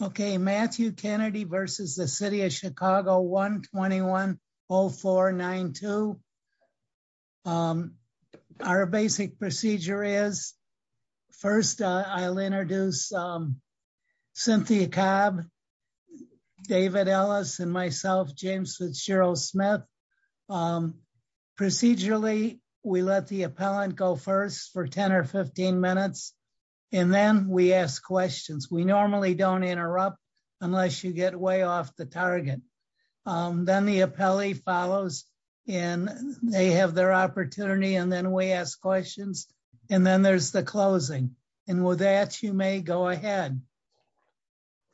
Okay, Matthew Kennedy versus the city of Chicago 1210492. Our basic procedure is. First, I'll introduce Cynthia cab. David Ellis and myself James Fitzgerald Smith. Procedurally, we let the appellant go first for 10 or 15 minutes, and then we ask questions we normally don't interrupt, unless you get way off the target. Then the appellee follows in, they have their opportunity and then we ask questions. And then there's the closing. And with that, you may go ahead.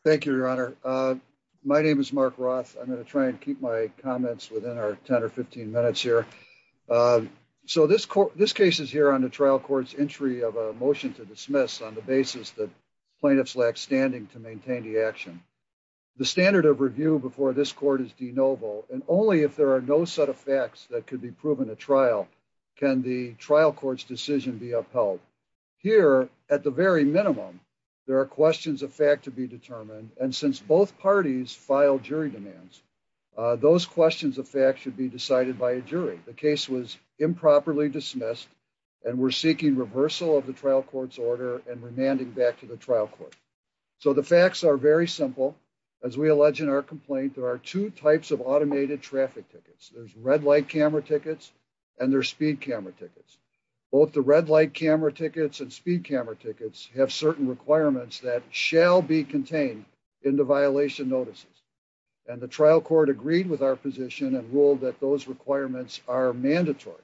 Thank you, Your Honor. My name is Mark Roth, I'm going to try and keep my comments within our 10 or 15 minutes here. So this court this case is here on the trial courts entry of a motion to dismiss on the basis that plaintiffs lack standing to maintain the action. The standard of review before this court is de novo, and only if there are no set of facts that could be proven a trial. Can the trial courts decision be upheld here at the very minimum. There are questions of fact to be determined, and since both parties file jury demands. Those questions of fact should be decided by a jury, the case was improperly dismissed, and we're seeking reversal of the trial courts order and remanding back to the trial court. So the facts are very simple. As we allege in our complaint, there are two types of automated traffic tickets, there's red light camera tickets, and their speed camera tickets. Both the red light camera tickets and speed camera tickets have certain requirements that shall be contained in the violation notices. And the trial court agreed with our position and rule that those requirements are mandatory.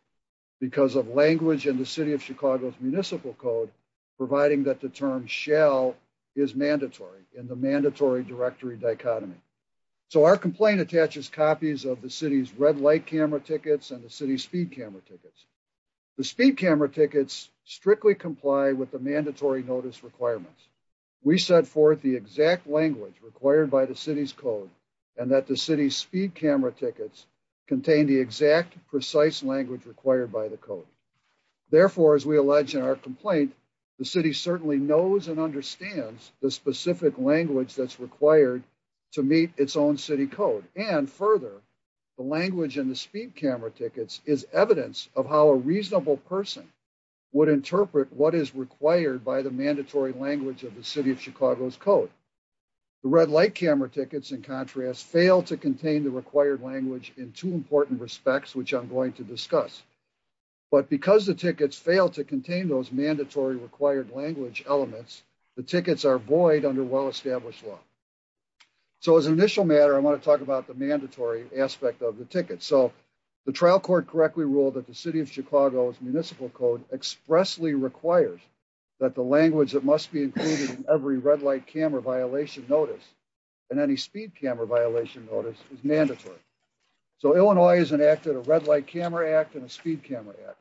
Because of language in the city of Chicago's municipal code, providing that the term shall is mandatory in the mandatory directory dichotomy. So our complaint attaches copies of the city's red light camera tickets and the city speed camera tickets. The speed camera tickets strictly comply with the mandatory notice requirements. We set forth the exact language required by the city's code, and that the city speed camera tickets contain the exact precise language required by the code. Therefore, as we allege in our complaint, the city certainly knows and understands the specific language that's required to meet its own city code, and further, the language in the speed camera tickets is evidence of how a reasonable person would interpret what is required by the mandatory language of the city of Chicago's code. The red light camera tickets, in contrast, fail to contain the required language in two important respects, which I'm going to discuss. But because the tickets fail to contain those mandatory required language elements, the tickets are void under well-established law. So as an initial matter, I want to talk about the mandatory aspect of the ticket. So the trial court correctly ruled that the city of Chicago's municipal code expressly requires that the language that must be included in every red light camera violation notice and any speed camera violation notice is mandatory. So Illinois has enacted a red light camera act and a speed camera act,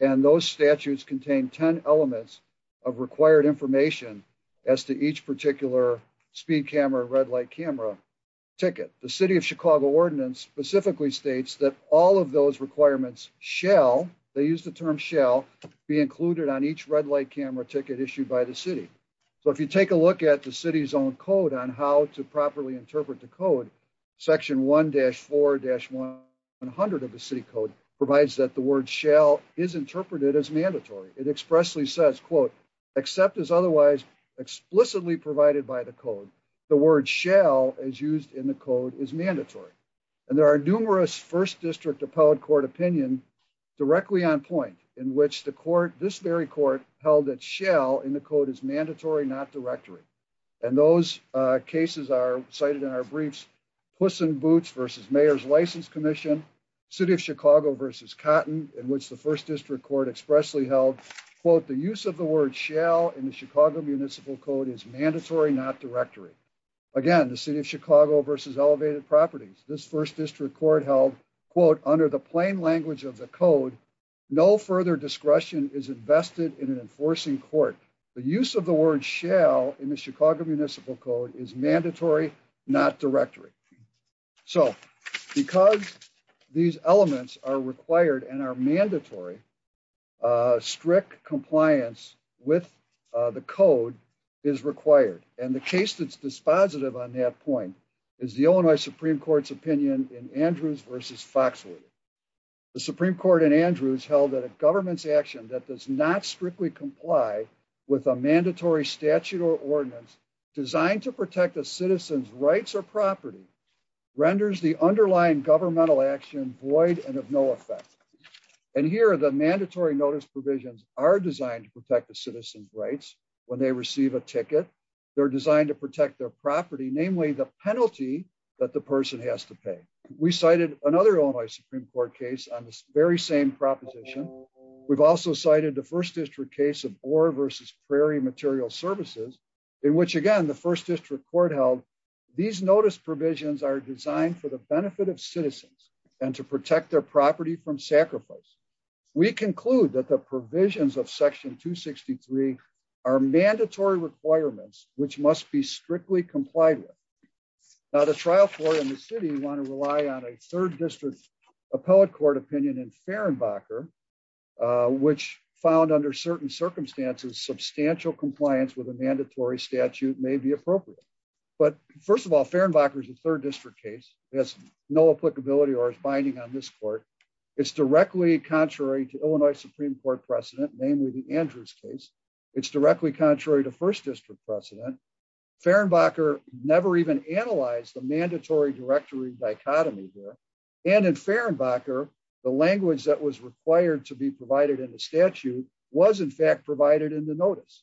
and those statutes contain 10 elements of required information as to each particular speed camera, red light camera ticket. The city of Chicago ordinance specifically states that all of those requirements shall, they use the term shall, be included on each red light camera ticket issued by the city. So if you take a look at the city's own code on how to properly interpret the code, section 1-4-100 of the city code provides that the word shall is interpreted as mandatory. It expressly says, quote, except as otherwise explicitly provided by the code, the word shall, as used in the code, is mandatory. And there are numerous first district appellate court opinion directly on point in which the court, this very court, held that shall in the code is mandatory, not directory. And those cases are cited in our briefs, Puss in Boots v. Mayor's License Commission, City of Chicago v. Cotton, in which the first district court expressly held, quote, the use of the word shall in the Chicago municipal code is mandatory, not directory. Again, the city of Chicago v. Elevated Properties, this first district court held, quote, under the plain language of the code, no further discretion is invested in an enforcing court. The use of the word shall in the Chicago municipal code is mandatory, not directory. So because these elements are required and are mandatory, strict compliance with the code is required. And the case that's dispositive on that point is the Illinois Supreme Court's opinion in Andrews v. Foxwood. The Supreme Court in Andrews held that a government's action that does not strictly comply with a mandatory statute or ordinance designed to protect a citizen's rights or property renders the underlying governmental action void and of no effect. And here are the mandatory notice provisions are designed to protect the citizen's rights when they receive a ticket. They're designed to protect their property, namely the penalty that the person has to pay. We cited another Illinois Supreme Court case on this very same proposition. We've also cited the first district case of Orr v. Prairie Material Services, in which again the first district court held these notice provisions are designed for the benefit of citizens, and to protect their property from sacrifice. We conclude that the provisions of section 263 are mandatory requirements, which must be strictly complied with. Now the trial court in the city want to rely on a third district appellate court opinion in Fehrenbacher, which found under certain circumstances substantial compliance with a mandatory statute may be appropriate. But first of all, Fehrenbacher is a third district case, has no applicability or binding on this court. It's directly contrary to Illinois Supreme Court precedent, namely the Andrews case. It's directly contrary to first district precedent. Fehrenbacher never even analyzed the mandatory directory dichotomy here. And in Fehrenbacher, the language that was required to be provided in the statute was in fact provided in the notice.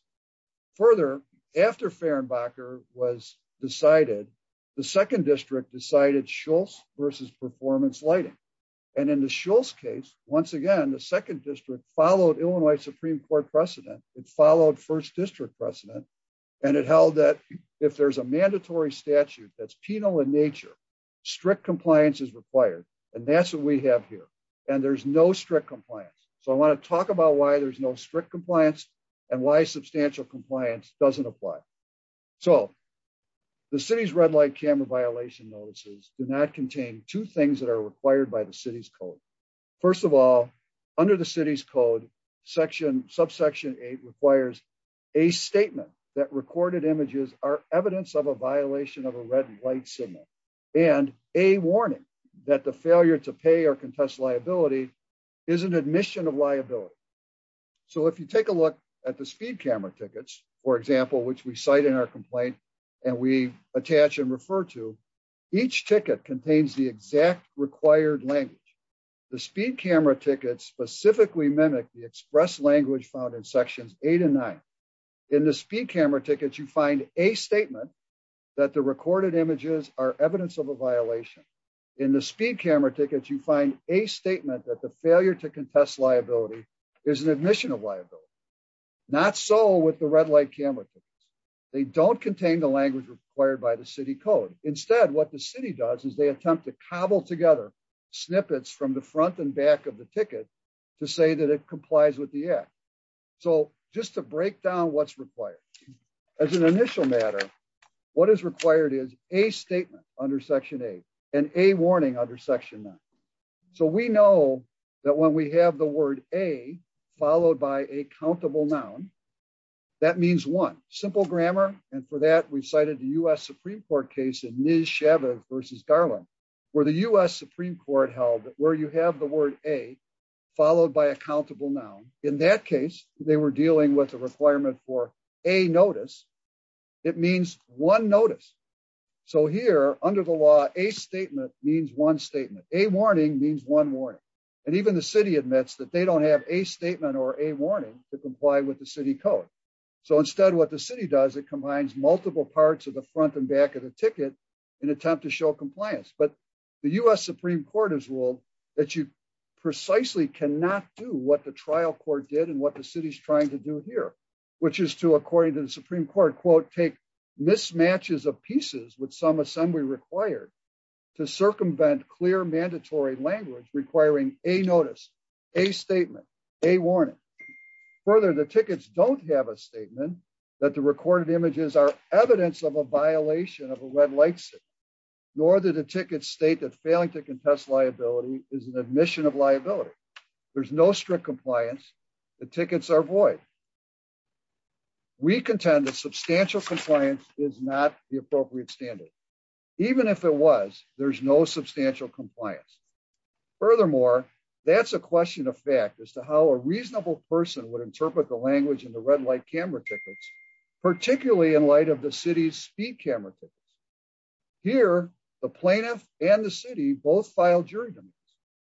Further, after Fehrenbacher was decided, the second district decided Shultz v. Performance Lighting. And in the Shultz case, once again, the second district followed Illinois Supreme Court precedent. It followed first district precedent. And it held that if there's a mandatory statute that's penal in nature, strict compliance is required. And that's what we have here. And there's no strict compliance. So I want to talk about why there's no strict compliance and why substantial compliance doesn't apply. So, the city's red light camera violation notices do not contain two things that are required by the city's code. First of all, under the city's code, subsection eight requires a statement that recorded images are evidence of a violation of a red light signal and a warning that the failure to pay or contest liability is an admission of liability. So if you take a look at the speed camera tickets, for example, which we cite in our complaint, and we attach and refer to, each ticket contains the exact required language. The speed camera tickets specifically mimic the express language found in sections eight and nine. In the speed camera tickets, you find a statement that the recorded images are evidence of a violation. In the speed camera tickets, you find a statement that the failure to contest liability is an admission of liability. Not so with the red light camera tickets. They don't contain the language required by the city code. Instead, what the city does is they attempt to cobble together snippets from the front and back of the ticket to say that it complies with the act. So, just to break down what's required. As an initial matter, what is required is a statement under section eight and a warning under section nine. So we know that when we have the word a followed by a countable noun. That means one simple grammar, and for that we cited the US Supreme Court case in New Shabbat versus Garland, where the US Supreme Court held that where you have the word a followed by a countable noun. In that case, they were dealing with a requirement for a notice. It means one notice. So here, under the law, a statement means one statement, a warning means one more. And even the city admits that they don't have a statement or a warning to comply with the city code. So instead what the city does it combines multiple parts of the front and back of the ticket and attempt to show compliance but the US Supreme Court has ruled that you precisely cannot do what the trial court did and what the city's trying to do here, which is to according to the Supreme Court quote take mismatches of pieces with some assembly required to circumvent clear mandatory language requiring a notice a statement, a warning. Further the tickets don't have a statement that the recorded images are evidence of a violation of a red light. Nor did a ticket state that failing to contest liability is an admission of liability. There's no strict compliance, the tickets are void. We contend that substantial compliance is not the appropriate standard. Even if it was, there's no substantial compliance. Furthermore, that's a question of fact as to how a reasonable person would interpret the language and the red light camera tickets, particularly in light of the city's speed camera. Here, the plaintiff, and the city both filed jury.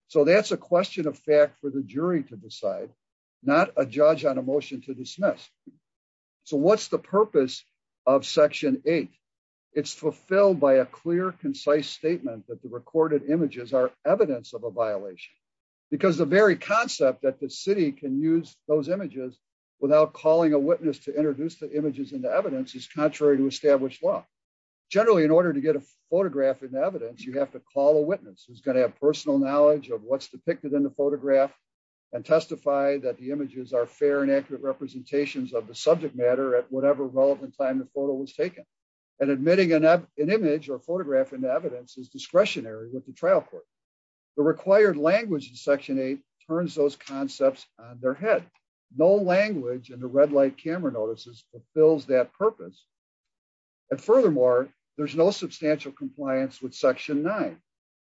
So that's a question of fact for the jury to decide, not a judge on a motion to dismiss. So what's the purpose of section eight. It's fulfilled by a clear concise statement that the recorded images are evidence of a violation, because the very concept that the city can use those images without calling a witness to introduce the images into evidence is contrary to established law. Generally, in order to get a photograph in evidence you have to call a witness who's going to have personal knowledge of what's depicted in the photograph and testify that the images are fair and accurate representations of the subject matter at whatever relevant time the photo was taken and admitting an image or photograph and evidence is discretionary with the trial court. The required language and section eight turns those concepts, their head, no language and the red light camera notices fulfills that purpose. And furthermore, there's no substantial compliance with section nine,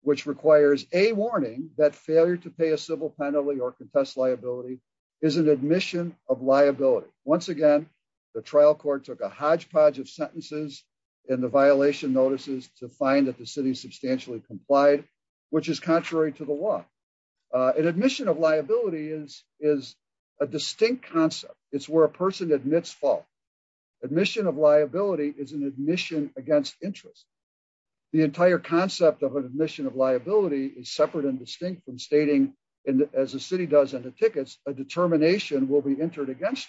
which requires a warning that failure to pay a civil penalty or contest liability is an admission of liability. Once again, the trial court took a hodgepodge of sentences in the violation notices to find that the city substantially complied, which is contrary to the law and admission of liability is, is a distinct concept, it's where a person admits fault admission of liability is an admission against interest. The entire concept of an admission of liability is separate and distinct from stating, and as a city does and the tickets, a determination will be entered against.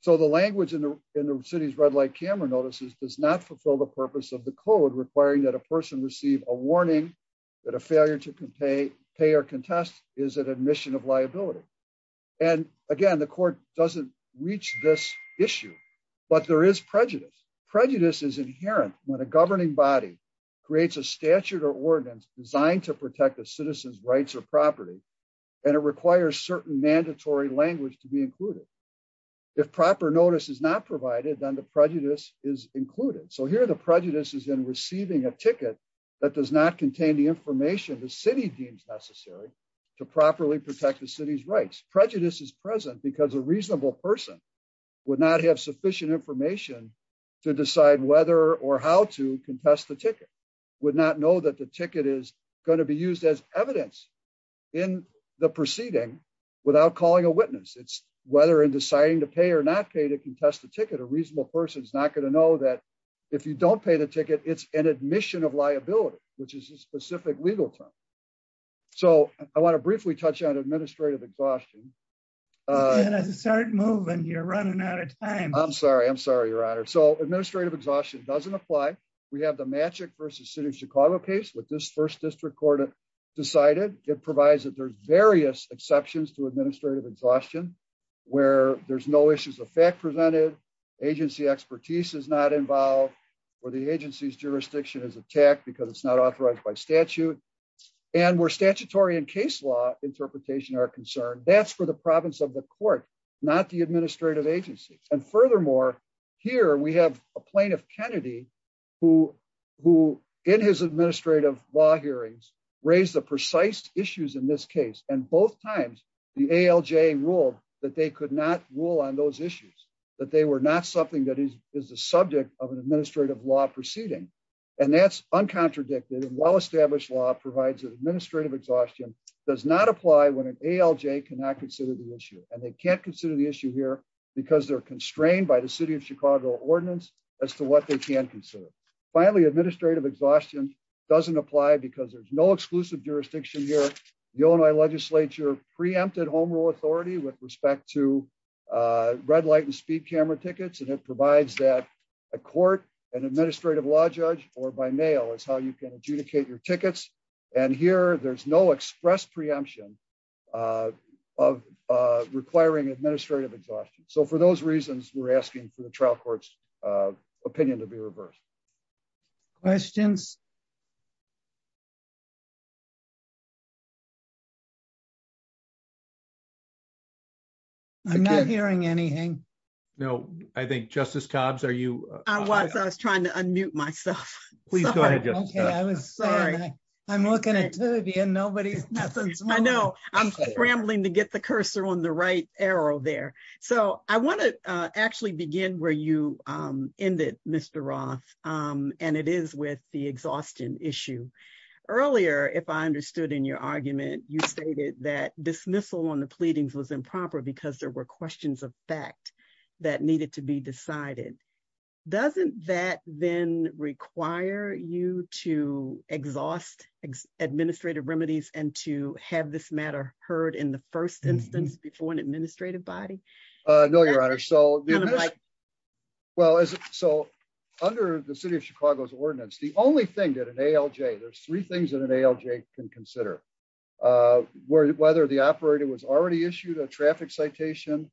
So the language in the city's red light camera notices does not fulfill the purpose of the code requiring that a person receive a warning that a failure to pay pay or contest is an admission of liability. And again, the court doesn't reach this issue, but there is prejudice prejudice is inherent when a governing body creates a statute or ordinance designed to protect the citizens rights or property. And it requires certain mandatory language to be included. If proper notice is not provided then the prejudice is included so here the prejudice is in receiving a ticket that does not contain the information the city deems necessary to properly protect the city's rights prejudice is present because a reasonable person would not have sufficient information to decide whether or how to contest the ticket would not know that the ticket is going to be used as evidence in the proceeding without calling a witness it's whether in deciding to pay or not pay to contest the ticket a reasonable person is not going to know that if you don't pay the ticket, it's an admission of liability, which is a specific legal term. So, I want to briefly touch on administrative exhaustion. Start moving you're running out of time, I'm sorry I'm sorry your honor so administrative exhaustion doesn't apply. We have the magic versus city of Chicago case with this first district court decided, it provides that there's various exceptions to administrative exhaustion, where there's no issues of fact presented agency expertise is not involved with the agency's jurisdiction is attacked because it's not authorized by statute. And we're statutory and case law interpretation are concerned, that's for the province of the court, not the administrative agency, and furthermore, here we have a plane of Kennedy, who, who, in his administrative law hearings, raise the precise issues in this proceeding. And that's uncontradicted and well established law provides administrative exhaustion does not apply when an ALJ cannot consider the issue, and they can't consider the issue here because they're constrained by the city of Chicago ordinance as to what they can consider. Finally administrative exhaustion doesn't apply because there's no exclusive jurisdiction here. The only legislature preempted home rule authority with respect to red light and speed camera tickets and it provides that a court and administrative law judge, or by mail is how you can adjudicate your tickets. And here there's no express preemption of requiring administrative exhaustion. So for those reasons we're asking for the trial courts opinion to be reversed. Questions. I'm not hearing anything. No, I think Justice cobs are you. I was trying to unmute myself. Please go ahead. I'm looking at the end nobody. I know I'm scrambling to get the cursor on the right arrow there. So, I want to actually begin where you in that Mr Roth, and it is with the exhaustion issue. Earlier if I understood in your argument, you stated that dismissal on the pleadings was improper because there were questions of fact that needed to be decided. Doesn't that then require you to exhaust administrative remedies and to have this matter heard in the first instance before an administrative body. No, Your Honor. So, well, so, under the city of Chicago's ordinance, the only thing that an ALJ there's three things that an ALJ can consider whether the operator was already issued a traffic citation,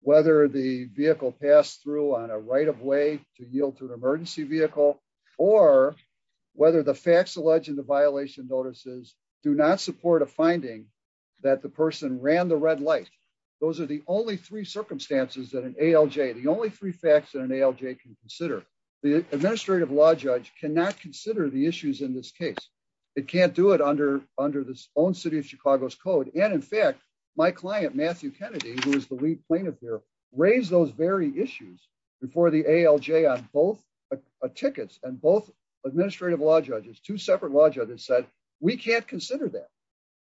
whether the vehicle pass through on a right of way to yield to an emergency vehicle, or whether the facts alleged in the violation notices, do not support a finding that the person ran the red light. Those are the only three circumstances that an ALJ the only three facts and an ALJ can consider the administrative law judge cannot consider the issues in this case. It can't do it under under this own city of Chicago's code and in fact, my client Matthew Kennedy, who is the lead plaintiff here, raise those very issues before the ALJ on both tickets and both administrative law judges two separate larger that said, we can't consider that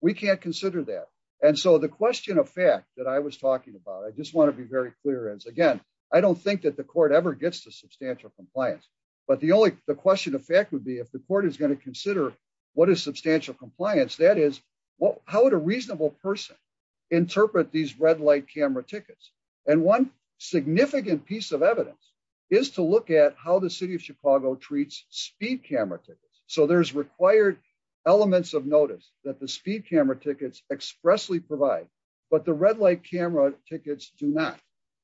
we can't consider that. And so the question of fact that I was talking about I just want to be very clear as again, I don't think that the court ever gets to substantial compliance, but the only the question of fact would be if the compliance that is what how would a reasonable person interpret these red light camera tickets, and one significant piece of evidence is to look at how the city of Chicago treats speed camera tickets, so there's required elements of notice that the speed camera tickets expressly provide, but the red light camera tickets, do not.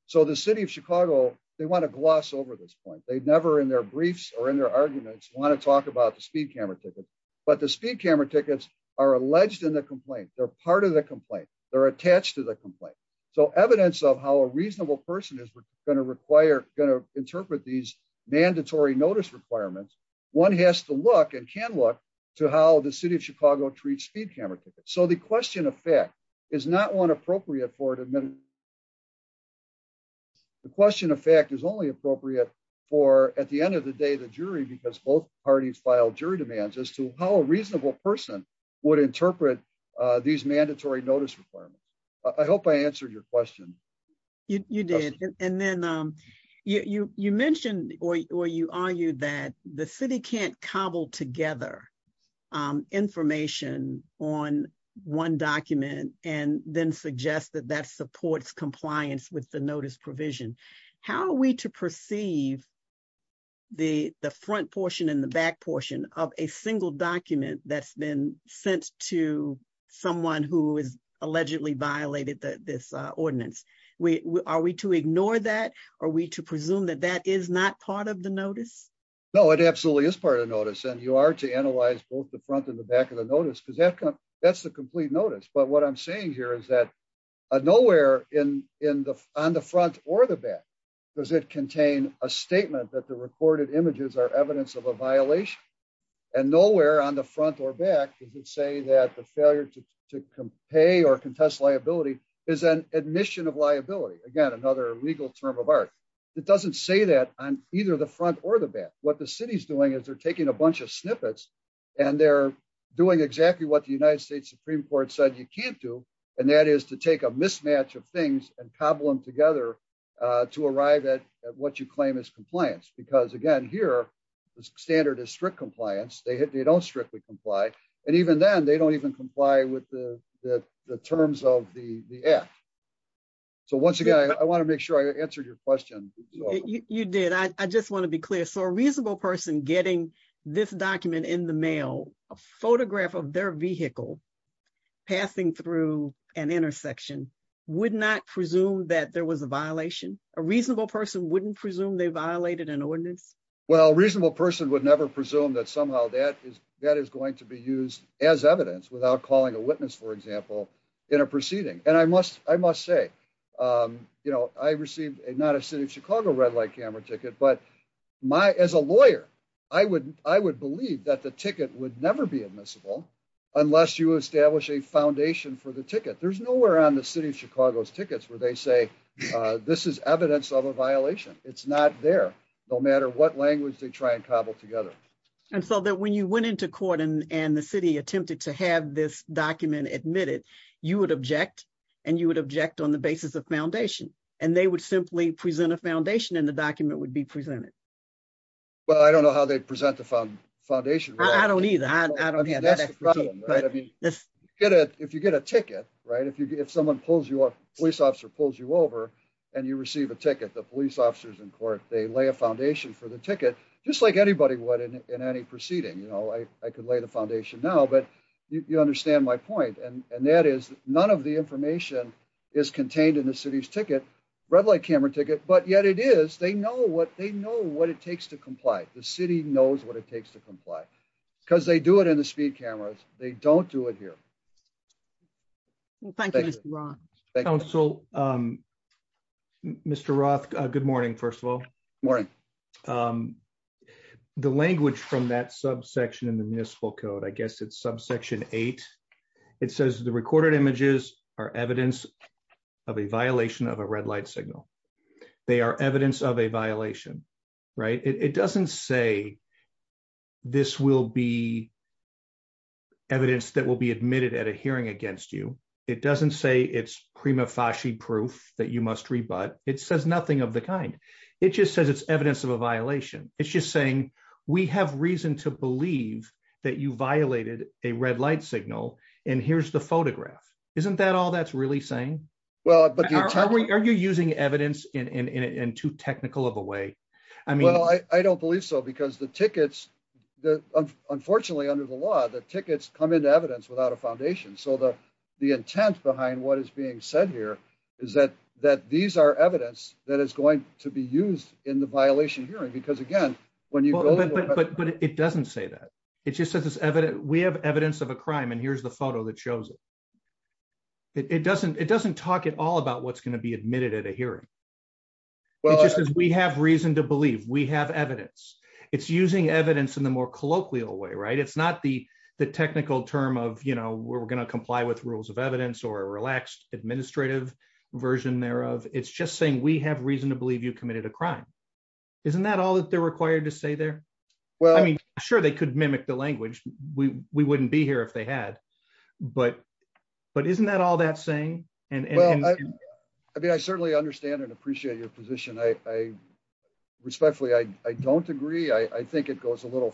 So the city of Chicago, they want to gloss over this point they've never in their briefs or in their arguments want to talk about the speed camera ticket, but the speed camera tickets are alleged in the complaint they're part of the complaint, they're attached to the complaint. So evidence of how a reasonable person is going to require going to interpret these mandatory notice requirements. One has to look and can look to how the city of Chicago treats speed camera. So the question of fact is not one appropriate for it. The question of fact is only appropriate for at the end of the day the jury because both parties file jury demands as to how a reasonable person would interpret these mandatory notice requirements. I hope I answered your question. You did. And then you mentioned, or you are you that the city can't cobble together information on one document, and then suggest that that supports compliance with the notice provision. How are we to perceive the front portion and the back portion of a single document that's been sent to someone who is allegedly violated this ordinance, we are we to ignore that, are we to presume that that is not part of the notice. No, it absolutely is part of the notice and you are to analyze both the front and the back of the notice because that's the complete notice but what I'm saying here is that nowhere in in the on the front or the back, does it contain a statement that the What the city's doing is they're taking a bunch of snippets, and they're doing exactly what the United States Supreme Court said you can't do. And that is to take a mismatch of things and cobble them together to arrive at what you claim is compliance because again here, the standard is strict compliance they hit they don't strictly comply. And even then they don't even comply with the terms of the app. So once again, I want to make sure I answered your question. You did I just want to be clear so a reasonable person getting this document in the mail, a photograph of their vehicle passing through an intersection would not presume that there was a violation, a reasonable person wouldn't presume they violated an ordinance. Well reasonable person would never presume that somehow that is, that is going to be used as evidence without calling a witness for example, in a proceeding, and I must, I must say, you know, I received a not a city of Chicago red light camera ticket but my as a lawyer, I would, I would believe that the ticket would never be admissible, unless you establish a foundation for the ticket there's nowhere on the city of Chicago's tickets where they say, this is evidence of a violation, it's not there. No matter what language they try and cobble together. And so that when you went into court and and the city attempted to have this document admitted, you would object, and you would object on the basis of foundation, and they would simply present a foundation and the document would be presented. But I don't know how they present the foundation. I don't need that. If you get a ticket right if you get someone pulls you up, police officer pulls you over, and you receive a ticket the police officers in court, they lay a foundation for the ticket, just like anybody would in any proceeding you know I could lay the foundation now but you understand my point and that is none of the information is contained in the city's ticket red light camera ticket but yet it is they know what they know what it takes to comply, the city knows what it takes to comply, because they do it in the speed cameras, they don't do it here. Thank you. So, Mr Roth, good morning. First of all, morning. The language from that subsection in the municipal code I guess it's subsection eight. It says the recorded images are evidence of a violation of a red light signal. They are evidence of a violation. Right. It doesn't say this will be evidence that will be admitted at a hearing against you. It doesn't say it's prima facie proof that you must read but it says nothing of the kind. It just says it's evidence of a violation, it's just saying we have reason to believe that you violated a red light signal. And here's the photograph. Isn't that all that's really saying, well, but are you using evidence in too technical of a way. I mean, I don't believe so because the tickets that unfortunately under the law that tickets come into evidence without a foundation so the, the intent behind what is being said here is that that these are evidence that is going to be used in the violation hearing because again, when you go, but it doesn't say that it just says it's evident we have evidence of a crime and here's the photo that shows it. It doesn't it doesn't talk at all about what's going to be admitted at a hearing. Well, we have reason to believe we have evidence. It's using evidence in the more colloquial way right it's not the, the technical term of you know we're going to comply with rules of evidence or relaxed administrative version thereof, it's just saying we have reason to believe you committed a crime. Isn't that all that they're required to say there. Well, I mean, sure they could mimic the language, we wouldn't be here if they had, but, but isn't that all that saying, and I mean I certainly understand and appreciate your position I respectfully I don't agree I think it goes a little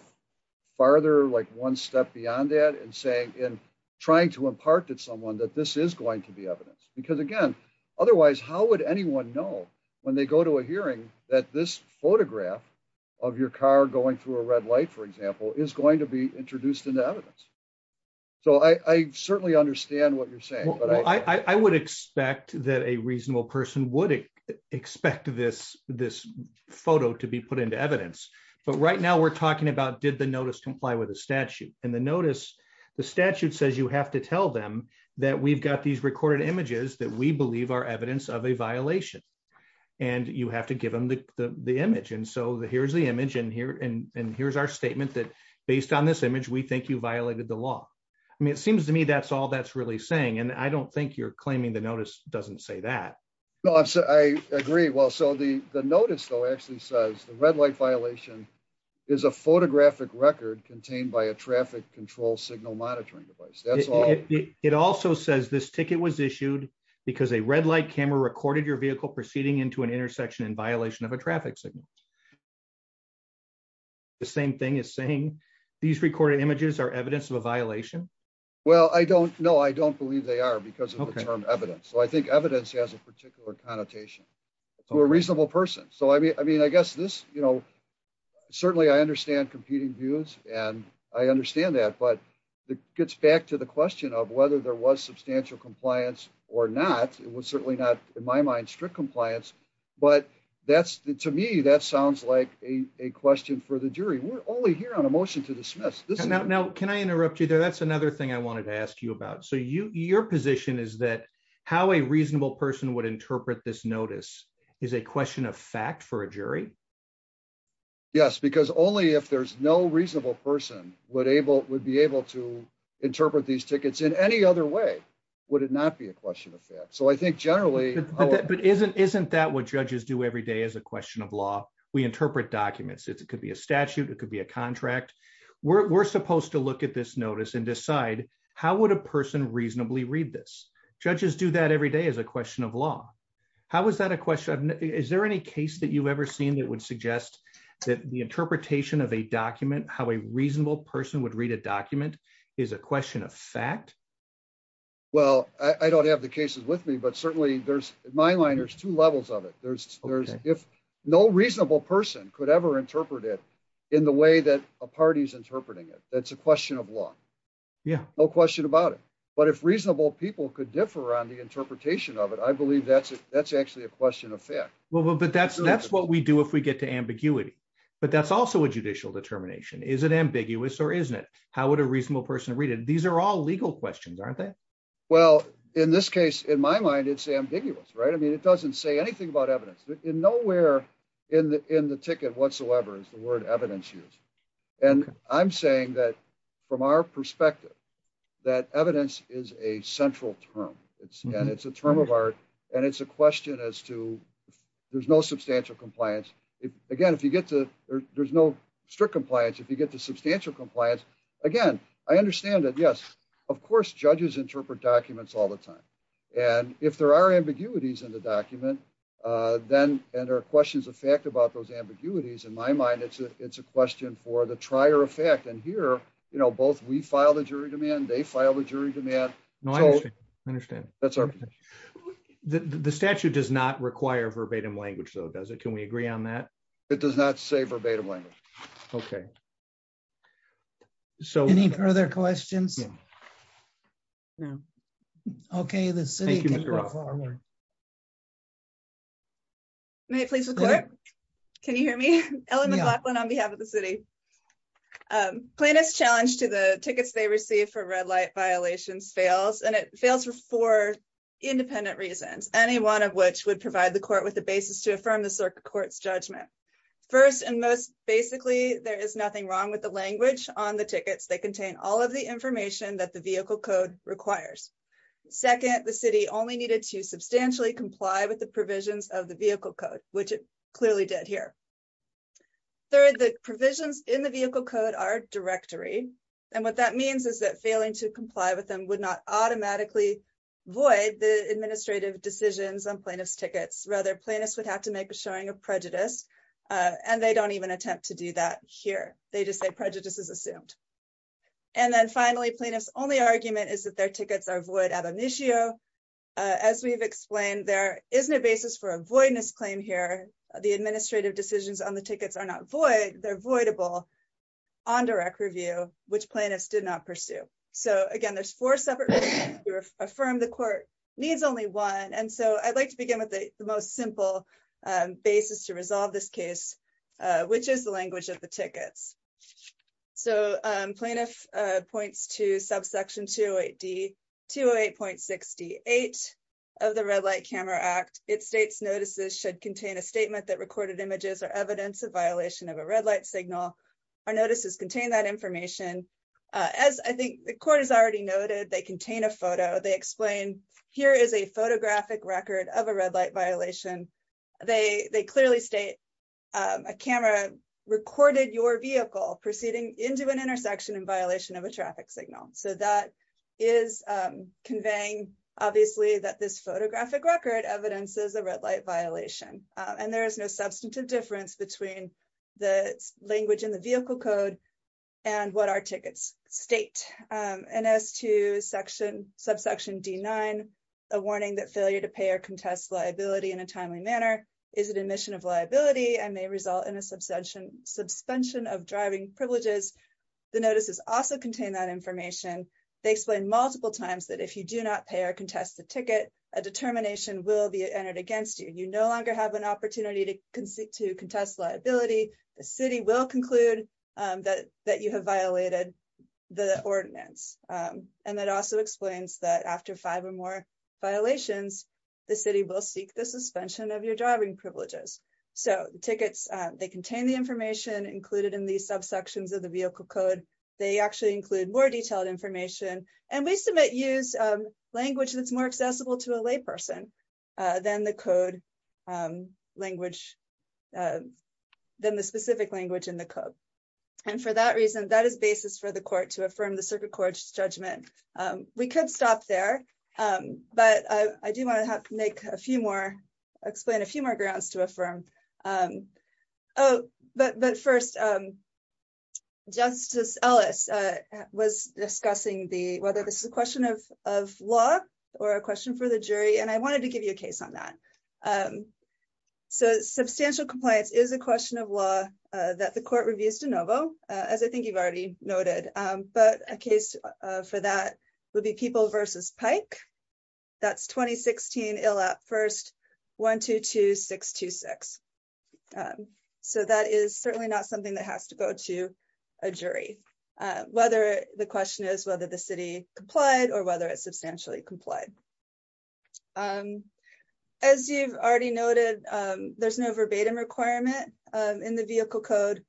farther like one step beyond that and saying in trying to impart to someone that this is going to be evidence, because again, otherwise how would anyone know when they go to a hearing that this photograph of your car going through a red light for example is going to be introduced into evidence. So I certainly understand what you're saying, but I would expect that a reasonable person would expect this, this photo to be put into evidence. But right now we're talking about did the notice comply with the statute, and the notice. The statute says you have to tell them that we've got these recorded images that we believe are evidence of a violation. And you have to give them the image and so the here's the image in here and here's our statement that based on this image we think you violated the law. I mean, it seems to me that's all that's really saying and I don't think you're claiming the notice doesn't say that. No, I agree. Well, so the, the notice though actually says the red light violation is a photographic record contained by a traffic control device. It also says this ticket was issued because a red light camera recorded your vehicle proceeding into an intersection in violation of a traffic signal. The same thing is saying these recorded images are evidence of a violation. Well I don't know I don't believe they are because of evidence so I think evidence has a particular connotation to a reasonable person so I mean I mean I guess this, you know, certainly I understand competing views, and I understand that but the gets back to the question of whether there was substantial compliance or not, it was certainly not in my mind strict compliance, but that's the to me that sounds like a question for the jury we're only here on a motion to dismiss this now can I interrupt you there that's another thing I wanted to ask you about so you your position is that how a reasonable person would interpret this notice is a question of fact for a jury. Yes, because only if there's no reasonable person would able would be able to interpret these tickets in any other way. Would it not be a question of fact so I think generally, but isn't isn't that what judges do every day is a question of law, we interpret documents it could be a statute, it could be a contract. We're supposed to look at this notice and decide how would a person reasonably read this judges do that every day is a question of law. How is that a question. Is there any case that you've ever seen that would suggest that the interpretation of a document how a reasonable person would read a document is a question of fact. Well, I don't have the cases with me but certainly there's my line there's two levels of it there's, there's, if no reasonable person could ever interpret it in the way that a party's interpreting it, that's a question of law. Yeah, no question about it. But if reasonable people could differ on the interpretation of it I believe that's it, that's actually a question of fact, well but that's that's what we do if we get to ambiguity, but that's also a judicial determination is an ambiguous or isn't it, how would a reasonable person read it, these are all legal questions aren't they. Well, in this case, in my mind it's ambiguous right I mean it doesn't say anything about evidence in nowhere in the, in the ticket whatsoever is the word evidence use. And I'm saying that, from our perspective, that evidence is a central term, it's, and it's a term of art, and it's a question as to, there's no substantial compliance. Again, if you get to, there's no strict compliance if you get to substantial compliance. Again, I understand that yes, of course judges interpret documents all the time. And if there are ambiguities in the document. Then, and our questions of fact about those ambiguities in my mind it's a it's a question for the trier effect and here, you know, both we filed a jury demand they filed a jury demand. No, I understand. That's our. The statute does not require verbatim language so does it can we agree on that. It does not say verbatim language. Okay. So any further questions. Okay, the city. May it please record. Can you hear me on behalf of the city plan is challenged to the tickets they receive for red light violations fails and it fails for independent reasons, any one of which would provide the court with the basis to affirm the circuit courts judgment. First and most, basically, there is nothing wrong with the language on the tickets they contain all of the information that the vehicle code requires. Second, the city only needed to substantially comply with the provisions of the vehicle code, which it clearly did here. Third, the provisions in the vehicle code our directory. And what that means is that failing to comply with them would not automatically void the administrative decisions on plaintiffs tickets rather plaintiffs would have to make a showing of prejudice. And they don't even attempt to do that here, they just say prejudices assumed. And then finally plaintiffs only argument is that their tickets are void at an issue. As we've explained there isn't a basis for avoidance claim here, the administrative decisions on the tickets are not void, they're avoidable on direct review, which plaintiffs did not pursue. So again there's four separate affirm the court needs only one and so I'd like to begin with the most simple basis to resolve this case, which is the language of the tickets. So plaintiff points to subsection to a D to a point 68 of the red light camera act, it states notices should contain a statement that recorded images or evidence of violation of a red light signal or notices contain that information. As I think the court has already noted they contain a photo they explain here is a photographic record of a red light violation. They, they clearly state a camera recorded your vehicle proceeding into an intersection and violation of a traffic signal. So that is conveying, obviously that this photographic record evidence is a red light violation, and there is no substantive difference between the language in the vehicle code. And what our tickets state, and as to section subsection D nine, a warning that failure to pay or contest liability in a timely manner. Is it a mission of liability and may result in a substantial suspension of driving privileges. The notices also contain that information. They explain multiple times that if you do not pay or contest the ticket, a determination will be entered against you, you no longer have an opportunity to concede to contest liability, the city will conclude that that you have violated the ordinance. And that also explains that after five or more violations, the city will seek the suspension of your driving privileges. So, tickets, they contain the information included in the subsections of the vehicle code. They actually include more detailed information, and we submit use language that's more accessible to a layperson. Then the code language. Then the specific language in the code. And for that reason, that is basis for the court to affirm the circuit court judgment. We could stop there. But I do want to have to make a few more explain a few more grounds to affirm. Oh, but but first, Justice Ellis was discussing the whether this is a question of law or a question for the jury and I wanted to give you a case on that. So substantial compliance is a question of law that the court reviews de novo, as I think you've already noted, but a case for that would be people versus pike. That's 2016 ill at first 122626. So that is certainly not something that has to go to a jury, whether the question is whether the city complied or whether it's substantially complied. As you've already noted, there's no verbatim requirement in the vehicle code.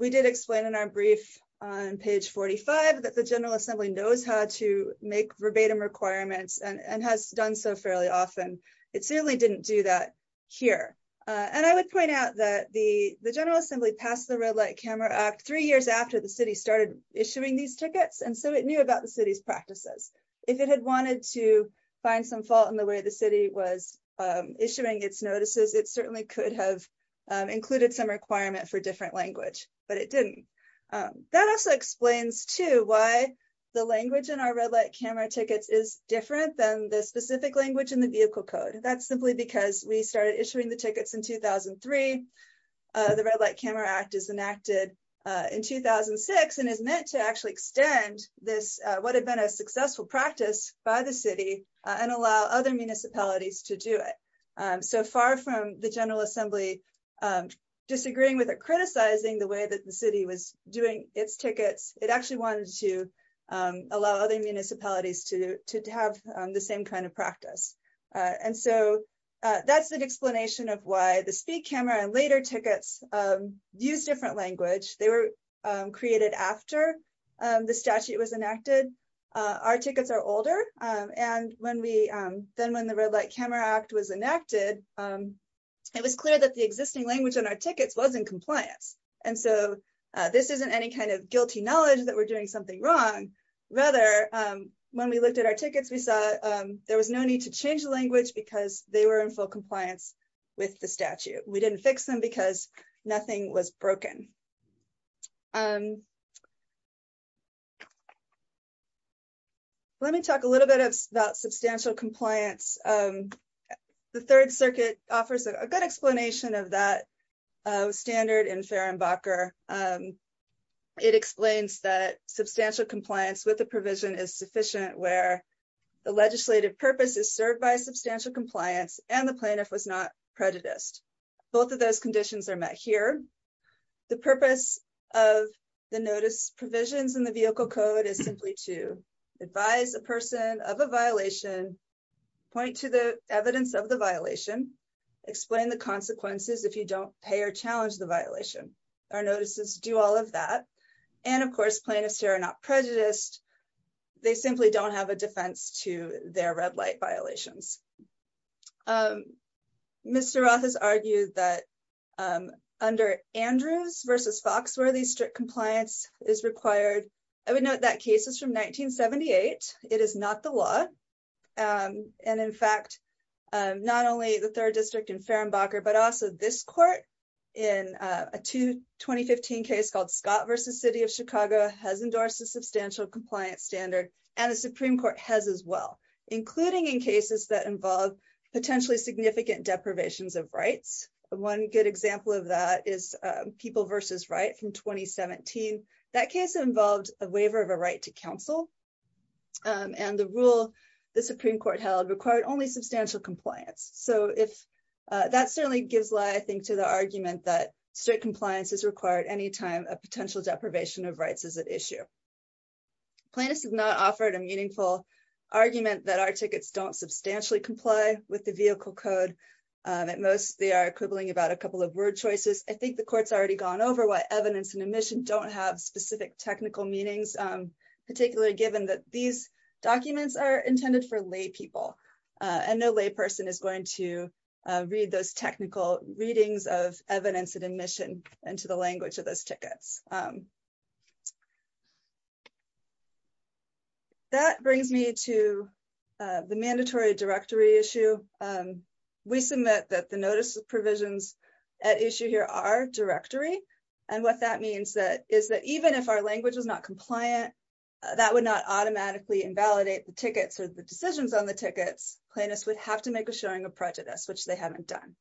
We did explain in our brief on page 45 that the General Assembly knows how to make verbatim requirements and has done so fairly often. It certainly didn't do that here. And I would point out that the the General Assembly passed the red light camera act three years after the city started issuing these tickets and so it knew about the city's practices. If it had wanted to find some fault in the way the city was issuing its notices it certainly could have included some requirement for different language, but it didn't. That also explains to why the language in our red light camera tickets is different than the specific language in the vehicle code. That's simply because we started issuing the tickets in 2003 The red light camera act is enacted in 2006 and is meant to actually extend this would have been a successful practice by the city and allow other municipalities to do it. So far from the General Assembly disagreeing with it, criticizing the way that the city was doing its tickets, it actually wanted to allow other municipalities to have the same kind of practice. And so that's an explanation of why the speed camera and later tickets use different language. They were created after the statute was enacted. Our tickets are older and when we then when the red light camera act was enacted. It was clear that the existing language on our tickets wasn't compliance. And so this isn't any kind of guilty knowledge that we're doing something wrong. Rather, when we looked at our tickets, we saw there was no need to change the language because they were in full compliance with the statute. We didn't fix them because nothing was broken. Let me talk a little bit about substantial compliance. The Third Circuit offers a good explanation of that standard in Fehrenbacher. It explains that substantial compliance with the provision is sufficient where the legislative purpose is served by substantial compliance and the plaintiff was not prejudiced. Both of those conditions are met here. The purpose of the notice provisions in the Vehicle Code is simply to advise a person of a violation, point to the evidence of the violation, explain the consequences if you don't pay or challenge the violation. Our notices do all of that. And of course plaintiffs here are not prejudiced. They simply don't have a defense to their red light violations. Mr. Roth has argued that under Andrews v. Foxworthy, strict compliance is required. I would note that case is from 1978. It is not the law. In fact, not only the Third District in Fehrenbacher, but also this court in a 2015 case called Scott v. City of Chicago has endorsed a substantial compliance standard and the Supreme Court has as well, including in cases that involve potentially significant deprivations of rights. One good example of that is People v. Wright from 2017. That case involved a waiver of a right to counsel and the rule the Supreme Court held required only substantial compliance. So that certainly gives light, I think, to the argument that strict compliance is required any time a potential deprivation of rights is at issue. Plaintiffs have not offered a meaningful argument that our tickets don't substantially comply with the vehicle code. At most, they are quibbling about a couple of word choices. I think the court's already gone over why evidence and admission don't have specific technical meanings, particularly given that these documents are intended for lay people and no lay person is going to read those technical readings of evidence and admission into the language of those tickets. That brings me to the mandatory directory issue. We submit that the notice of provisions at issue here are directory. And what that means is that even if our language is not compliant, that would not automatically invalidate the tickets or the decisions on the tickets. Plaintiffs would have to make a showing of prejudice, which they haven't done.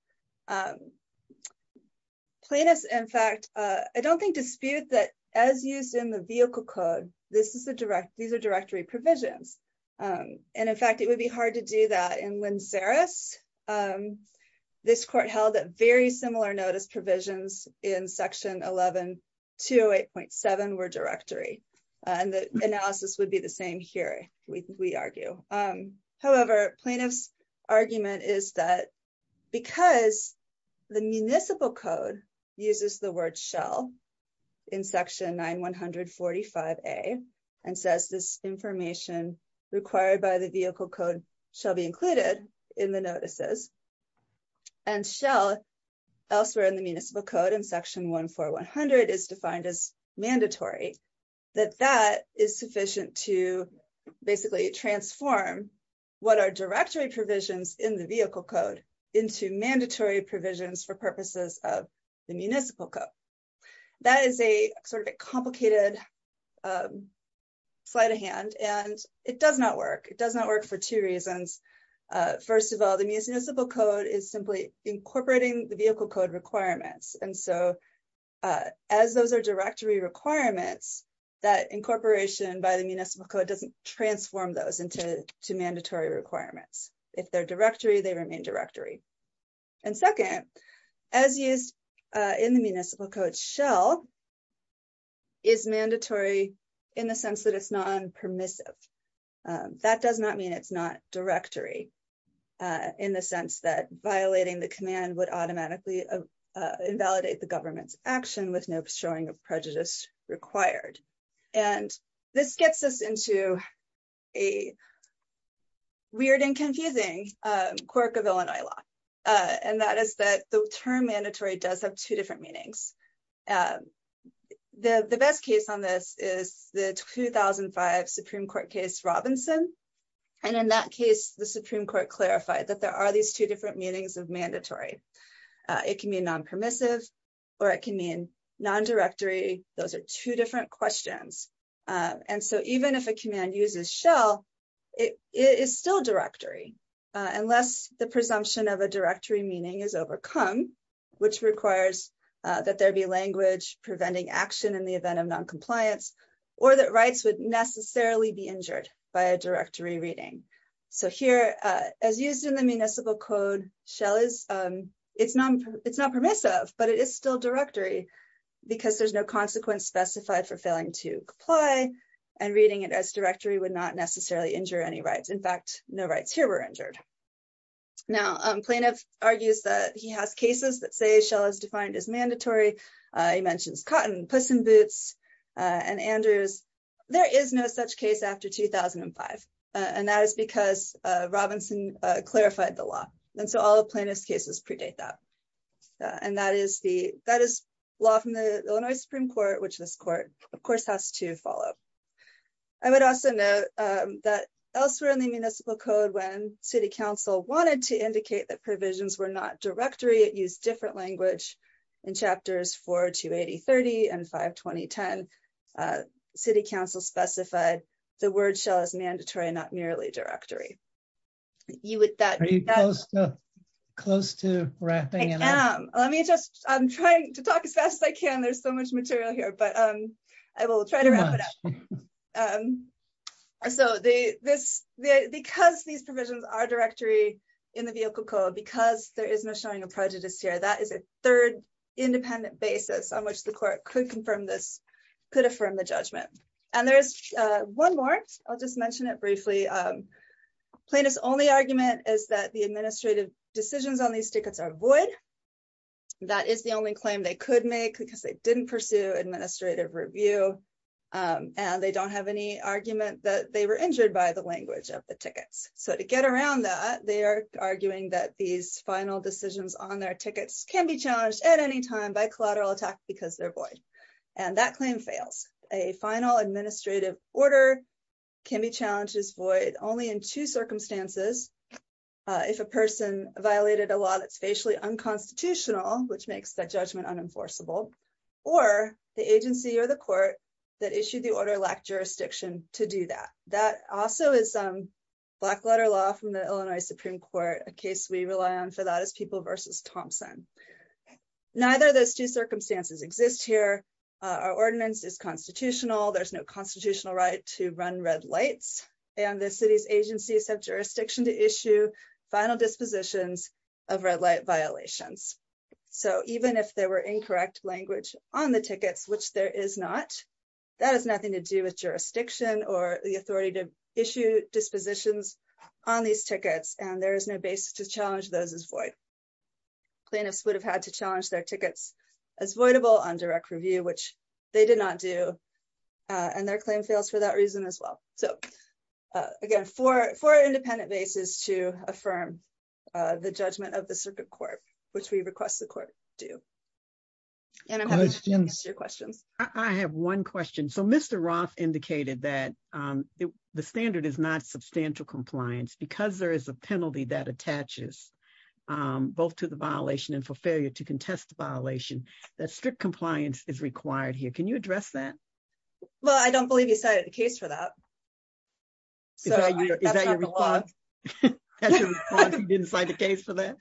Plaintiffs, in fact, I don't think dispute that, as used in the vehicle code, these are directory provisions. And in fact, it would be hard to do that in Windsoris. This court held that very similar notice provisions in Section 11-208.7 were directory. And the analysis would be the same here, we argue. However, plaintiff's argument is that because the municipal code uses the word shall in Section 9-145A and says this information required by the vehicle code shall be included in the notices, and shall elsewhere in the municipal code in Section 1-4100 is defined as mandatory, that that is sufficient to basically transform what are directory provisions in the vehicle code into mandatory provisions for purposes of the municipal code. That is a sort of a complicated slide of hand, and it does not work. It does not work for two reasons. First of all, the municipal code is simply incorporating the vehicle code requirements. And so as those are directory requirements, that incorporation by the municipal code doesn't transform those into mandatory requirements. If they're directory, they remain directory. And second, as used in the municipal code, shall is mandatory in the sense that it's non permissive. That does not mean it's not directory in the sense that violating the command would automatically invalidate the government's action with no showing of prejudice required. And this gets us into a weird and confusing quirk of Illinois law, and that is that the term mandatory does have two different meanings. The best case on this is the 2005 Supreme Court case Robinson. And in that case, the Supreme Court clarified that there are these two different meanings of mandatory. It can be non permissive, or it can mean non directory. Those are two different questions. And so even if a command uses shall, it is still directory, unless the presumption of a directory meaning is overcome, which requires that there be language preventing action in the event of non compliance or that rights would necessarily be injured by a directory reading. So here, as used in the municipal code, shall is it's non permissive, but it is still directory because there's no consequence specified for failing to comply and reading it as directory would not necessarily injure any rights. In fact, no rights here were injured. Now plaintiff argues that he has cases that say shall is defined as mandatory. He mentions cotton, puss in boots, and Andrews. There is no such case after 2005 and that is because Robinson clarified the law. And so all the plaintiff's cases predate that. And that is the law from the Illinois Supreme Court, which this court, of course, has to follow. I would also note that elsewhere in the municipal code when city council wanted to indicate that provisions were not directory, it used different language. In chapters 4-280-30 and 5-20-10, city council specified the word shall is mandatory and not merely directory. Are you close to wrapping? I am. I'm trying to talk as fast as I can. There's so much material here, but I will try to wrap it up. Because these provisions are directory in the vehicle code, because there is no showing of prejudice here, that is a third independent basis on which the court could confirm this, could affirm the judgment. And there's one more. I'll just mention it briefly. Plaintiff's only argument is that the administrative decisions on these tickets are void. That is the only claim they could make because they didn't pursue administrative review. And they don't have any argument that they were injured by the language of the tickets. So to get around that, they are arguing that these final decisions on their tickets can be challenged at any time by collateral attack because they're void. And that claim fails. A final administrative order can be challenged as void only in two circumstances. If a person violated a law that's facially unconstitutional, which makes that judgment unenforceable, or the agency or the court that issued the order lacked jurisdiction to do that. That also is black letter law from the Illinois Supreme Court, a case we rely on for that is People v. Thompson. Neither of those two circumstances exist here. Our ordinance is constitutional. There's no constitutional right to run red lights, and the city's agencies have jurisdiction to issue final dispositions of red light violations. So even if there were incorrect language on the tickets, which there is not, that has nothing to do with jurisdiction or the authority to issue dispositions on these tickets and there is no basis to challenge those as void. Plaintiffs would have had to challenge their tickets as voidable on direct review, which they did not do. And their claim fails for that reason as well. So, again, for an independent basis to affirm the judgment of the circuit court, which we request the court do. And I'm happy to answer your questions. I have one question. So Mr. Roth indicated that the standard is not substantial compliance because there is a penalty that attaches both to the violation and for failure to contest the violation, that strict compliance is required here. Can you address that? Well, I don't believe you cited the case for that. Is that your response? That's your response, you didn't cite the case for that?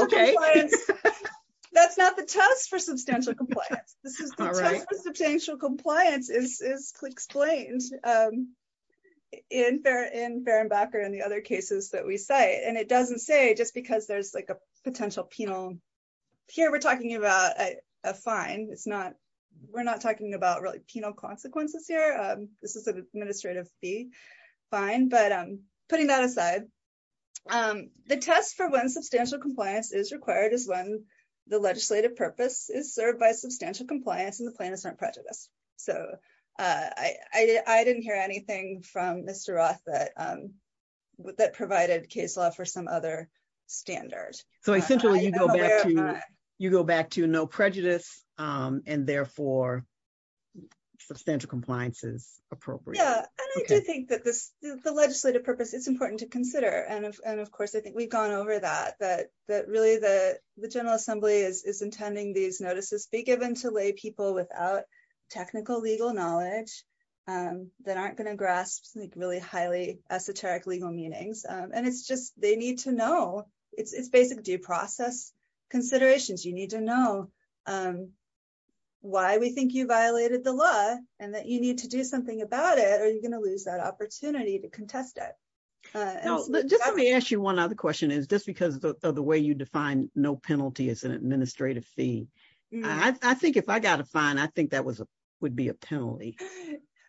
Okay. That's not the test for substantial compliance. The test for substantial compliance is explained in Ferenbacher and the other cases that we cite. And it doesn't say just because there's like a potential penal. Here we're talking about a fine. It's not, we're not talking about really penal consequences here. This is an administrative fee fine, but putting that aside. The test for when substantial compliance is required is when the legislative purpose is served by substantial compliance and the plan is not prejudiced. So I didn't hear anything from Mr. Roth that provided case law for some other standard. So essentially you go back to no prejudice and therefore substantial compliance is appropriate. Yeah, and I do think that the legislative purpose is important to consider. And of course, I think we've gone over that, that really the General Assembly is intending these notices be given to lay people without technical legal knowledge. That aren't going to grasp really highly esoteric legal meanings. And it's just, they need to know. It's basic due process considerations. You need to know why we think you violated the law and that you need to do something about it or you're going to lose that opportunity to contest it. Just let me ask you one other question is just because of the way you define no penalty as an administrative fee. I think if I got a fine, I think that would be a penalty.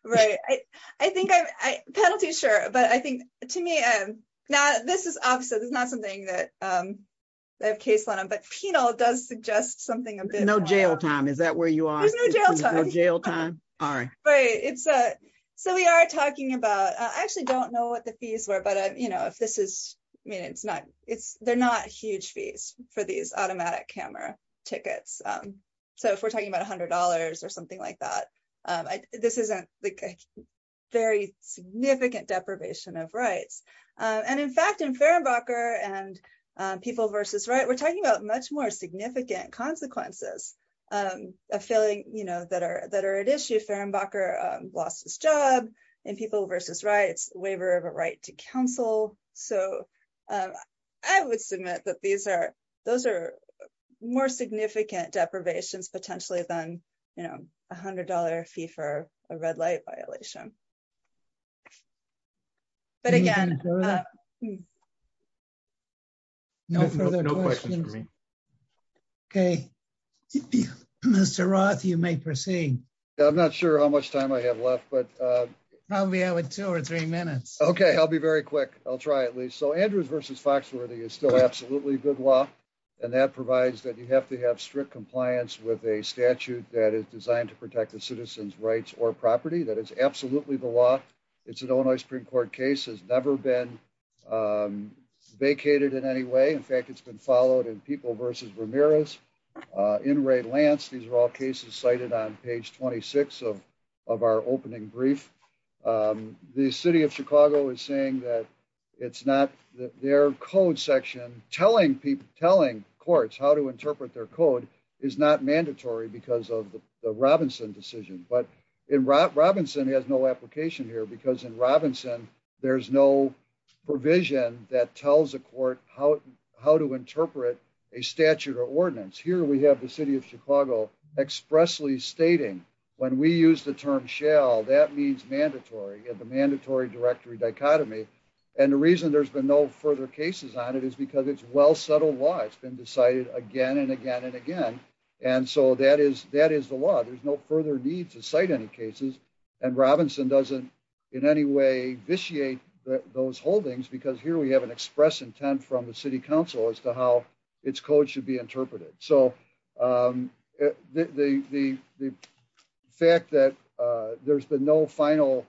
Right. I think I penalty sure, but I think to me, and now this is opposite. It's not something that I have case law, but penal does suggest something. No jail time. Is that where you are? No jail time. All right. So we are talking about, I actually don't know what the fees were, but if this is, I mean, it's not, it's, they're not huge fees for these automatic camera tickets. So if we're talking about $100 or something like that, this isn't a very significant deprivation of rights. And in fact, in Fehrenbacher and People vs. Rights, we're talking about much more significant consequences of failing, you know, that are, that are at issue. Fehrenbacher lost his job in People vs. Rights, waiver of a right to counsel. So I would submit that these are, those are more significant deprivations potentially than, you know, $100 fee for a red light violation. But again, No further questions. Okay. Mr. Roth, you may proceed. I'm not sure how much time I have left, but Probably have two or three minutes. Okay, I'll be very quick. I'll try at least. So Andrews vs. Foxworthy is still absolutely good law. And that provides that you have to have strict compliance with a statute that is designed to protect the citizen's rights or property. That is absolutely the law. It's an Illinois Supreme Court case has never been vacated in any way. In fact, it's been followed in People vs. Ramirez. In Ray Lance, these are all cases cited on page 26 of our opening brief. The city of Chicago is saying that it's not their code section, telling people, telling courts how to interpret their code is not mandatory because of the Robinson decision. But in Robinson has no application here because in Robinson, there's no provision that tells the court how to interpret a statute or ordinance. Here we have the city of Chicago expressly stating when we use the term shall that means mandatory and the mandatory directory dichotomy. And the reason there's been no further cases on it is because it's well settled why it's been decided again and again and again. And so that is that is the law. There's no further need to cite any cases and Robinson doesn't in any way vitiate those holdings because here we have an express intent from the city council as to how its code should be interpreted. So the fact that there's been no final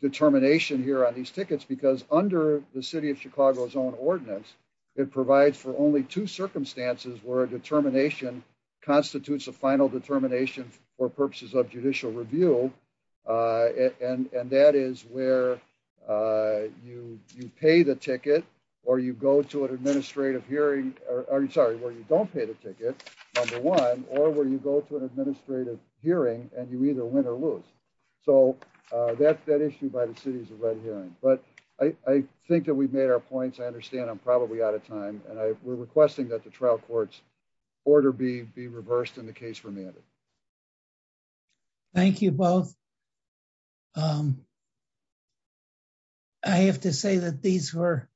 determination here on these tickets because under the city of Chicago's own ordinance, it provides for only two circumstances where a determination constitutes a final determination for purposes of judicial review. And that is where you, you pay the ticket, or you go to an administrative hearing, or sorry where you don't pay the ticket. Number one, or where you go to an administrative hearing, and you either win or lose. So, that's that issue by the cities of red here, but I think that we've made our points I understand I'm probably out of time, and I were requesting that the trial courts order be be reversed in the case for me. Thank you both. I have to say that these were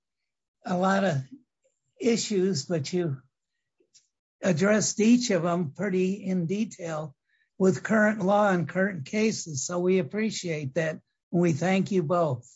a lot of issues but you addressed each of them pretty in detail with current law and current cases so we appreciate that. We thank you both.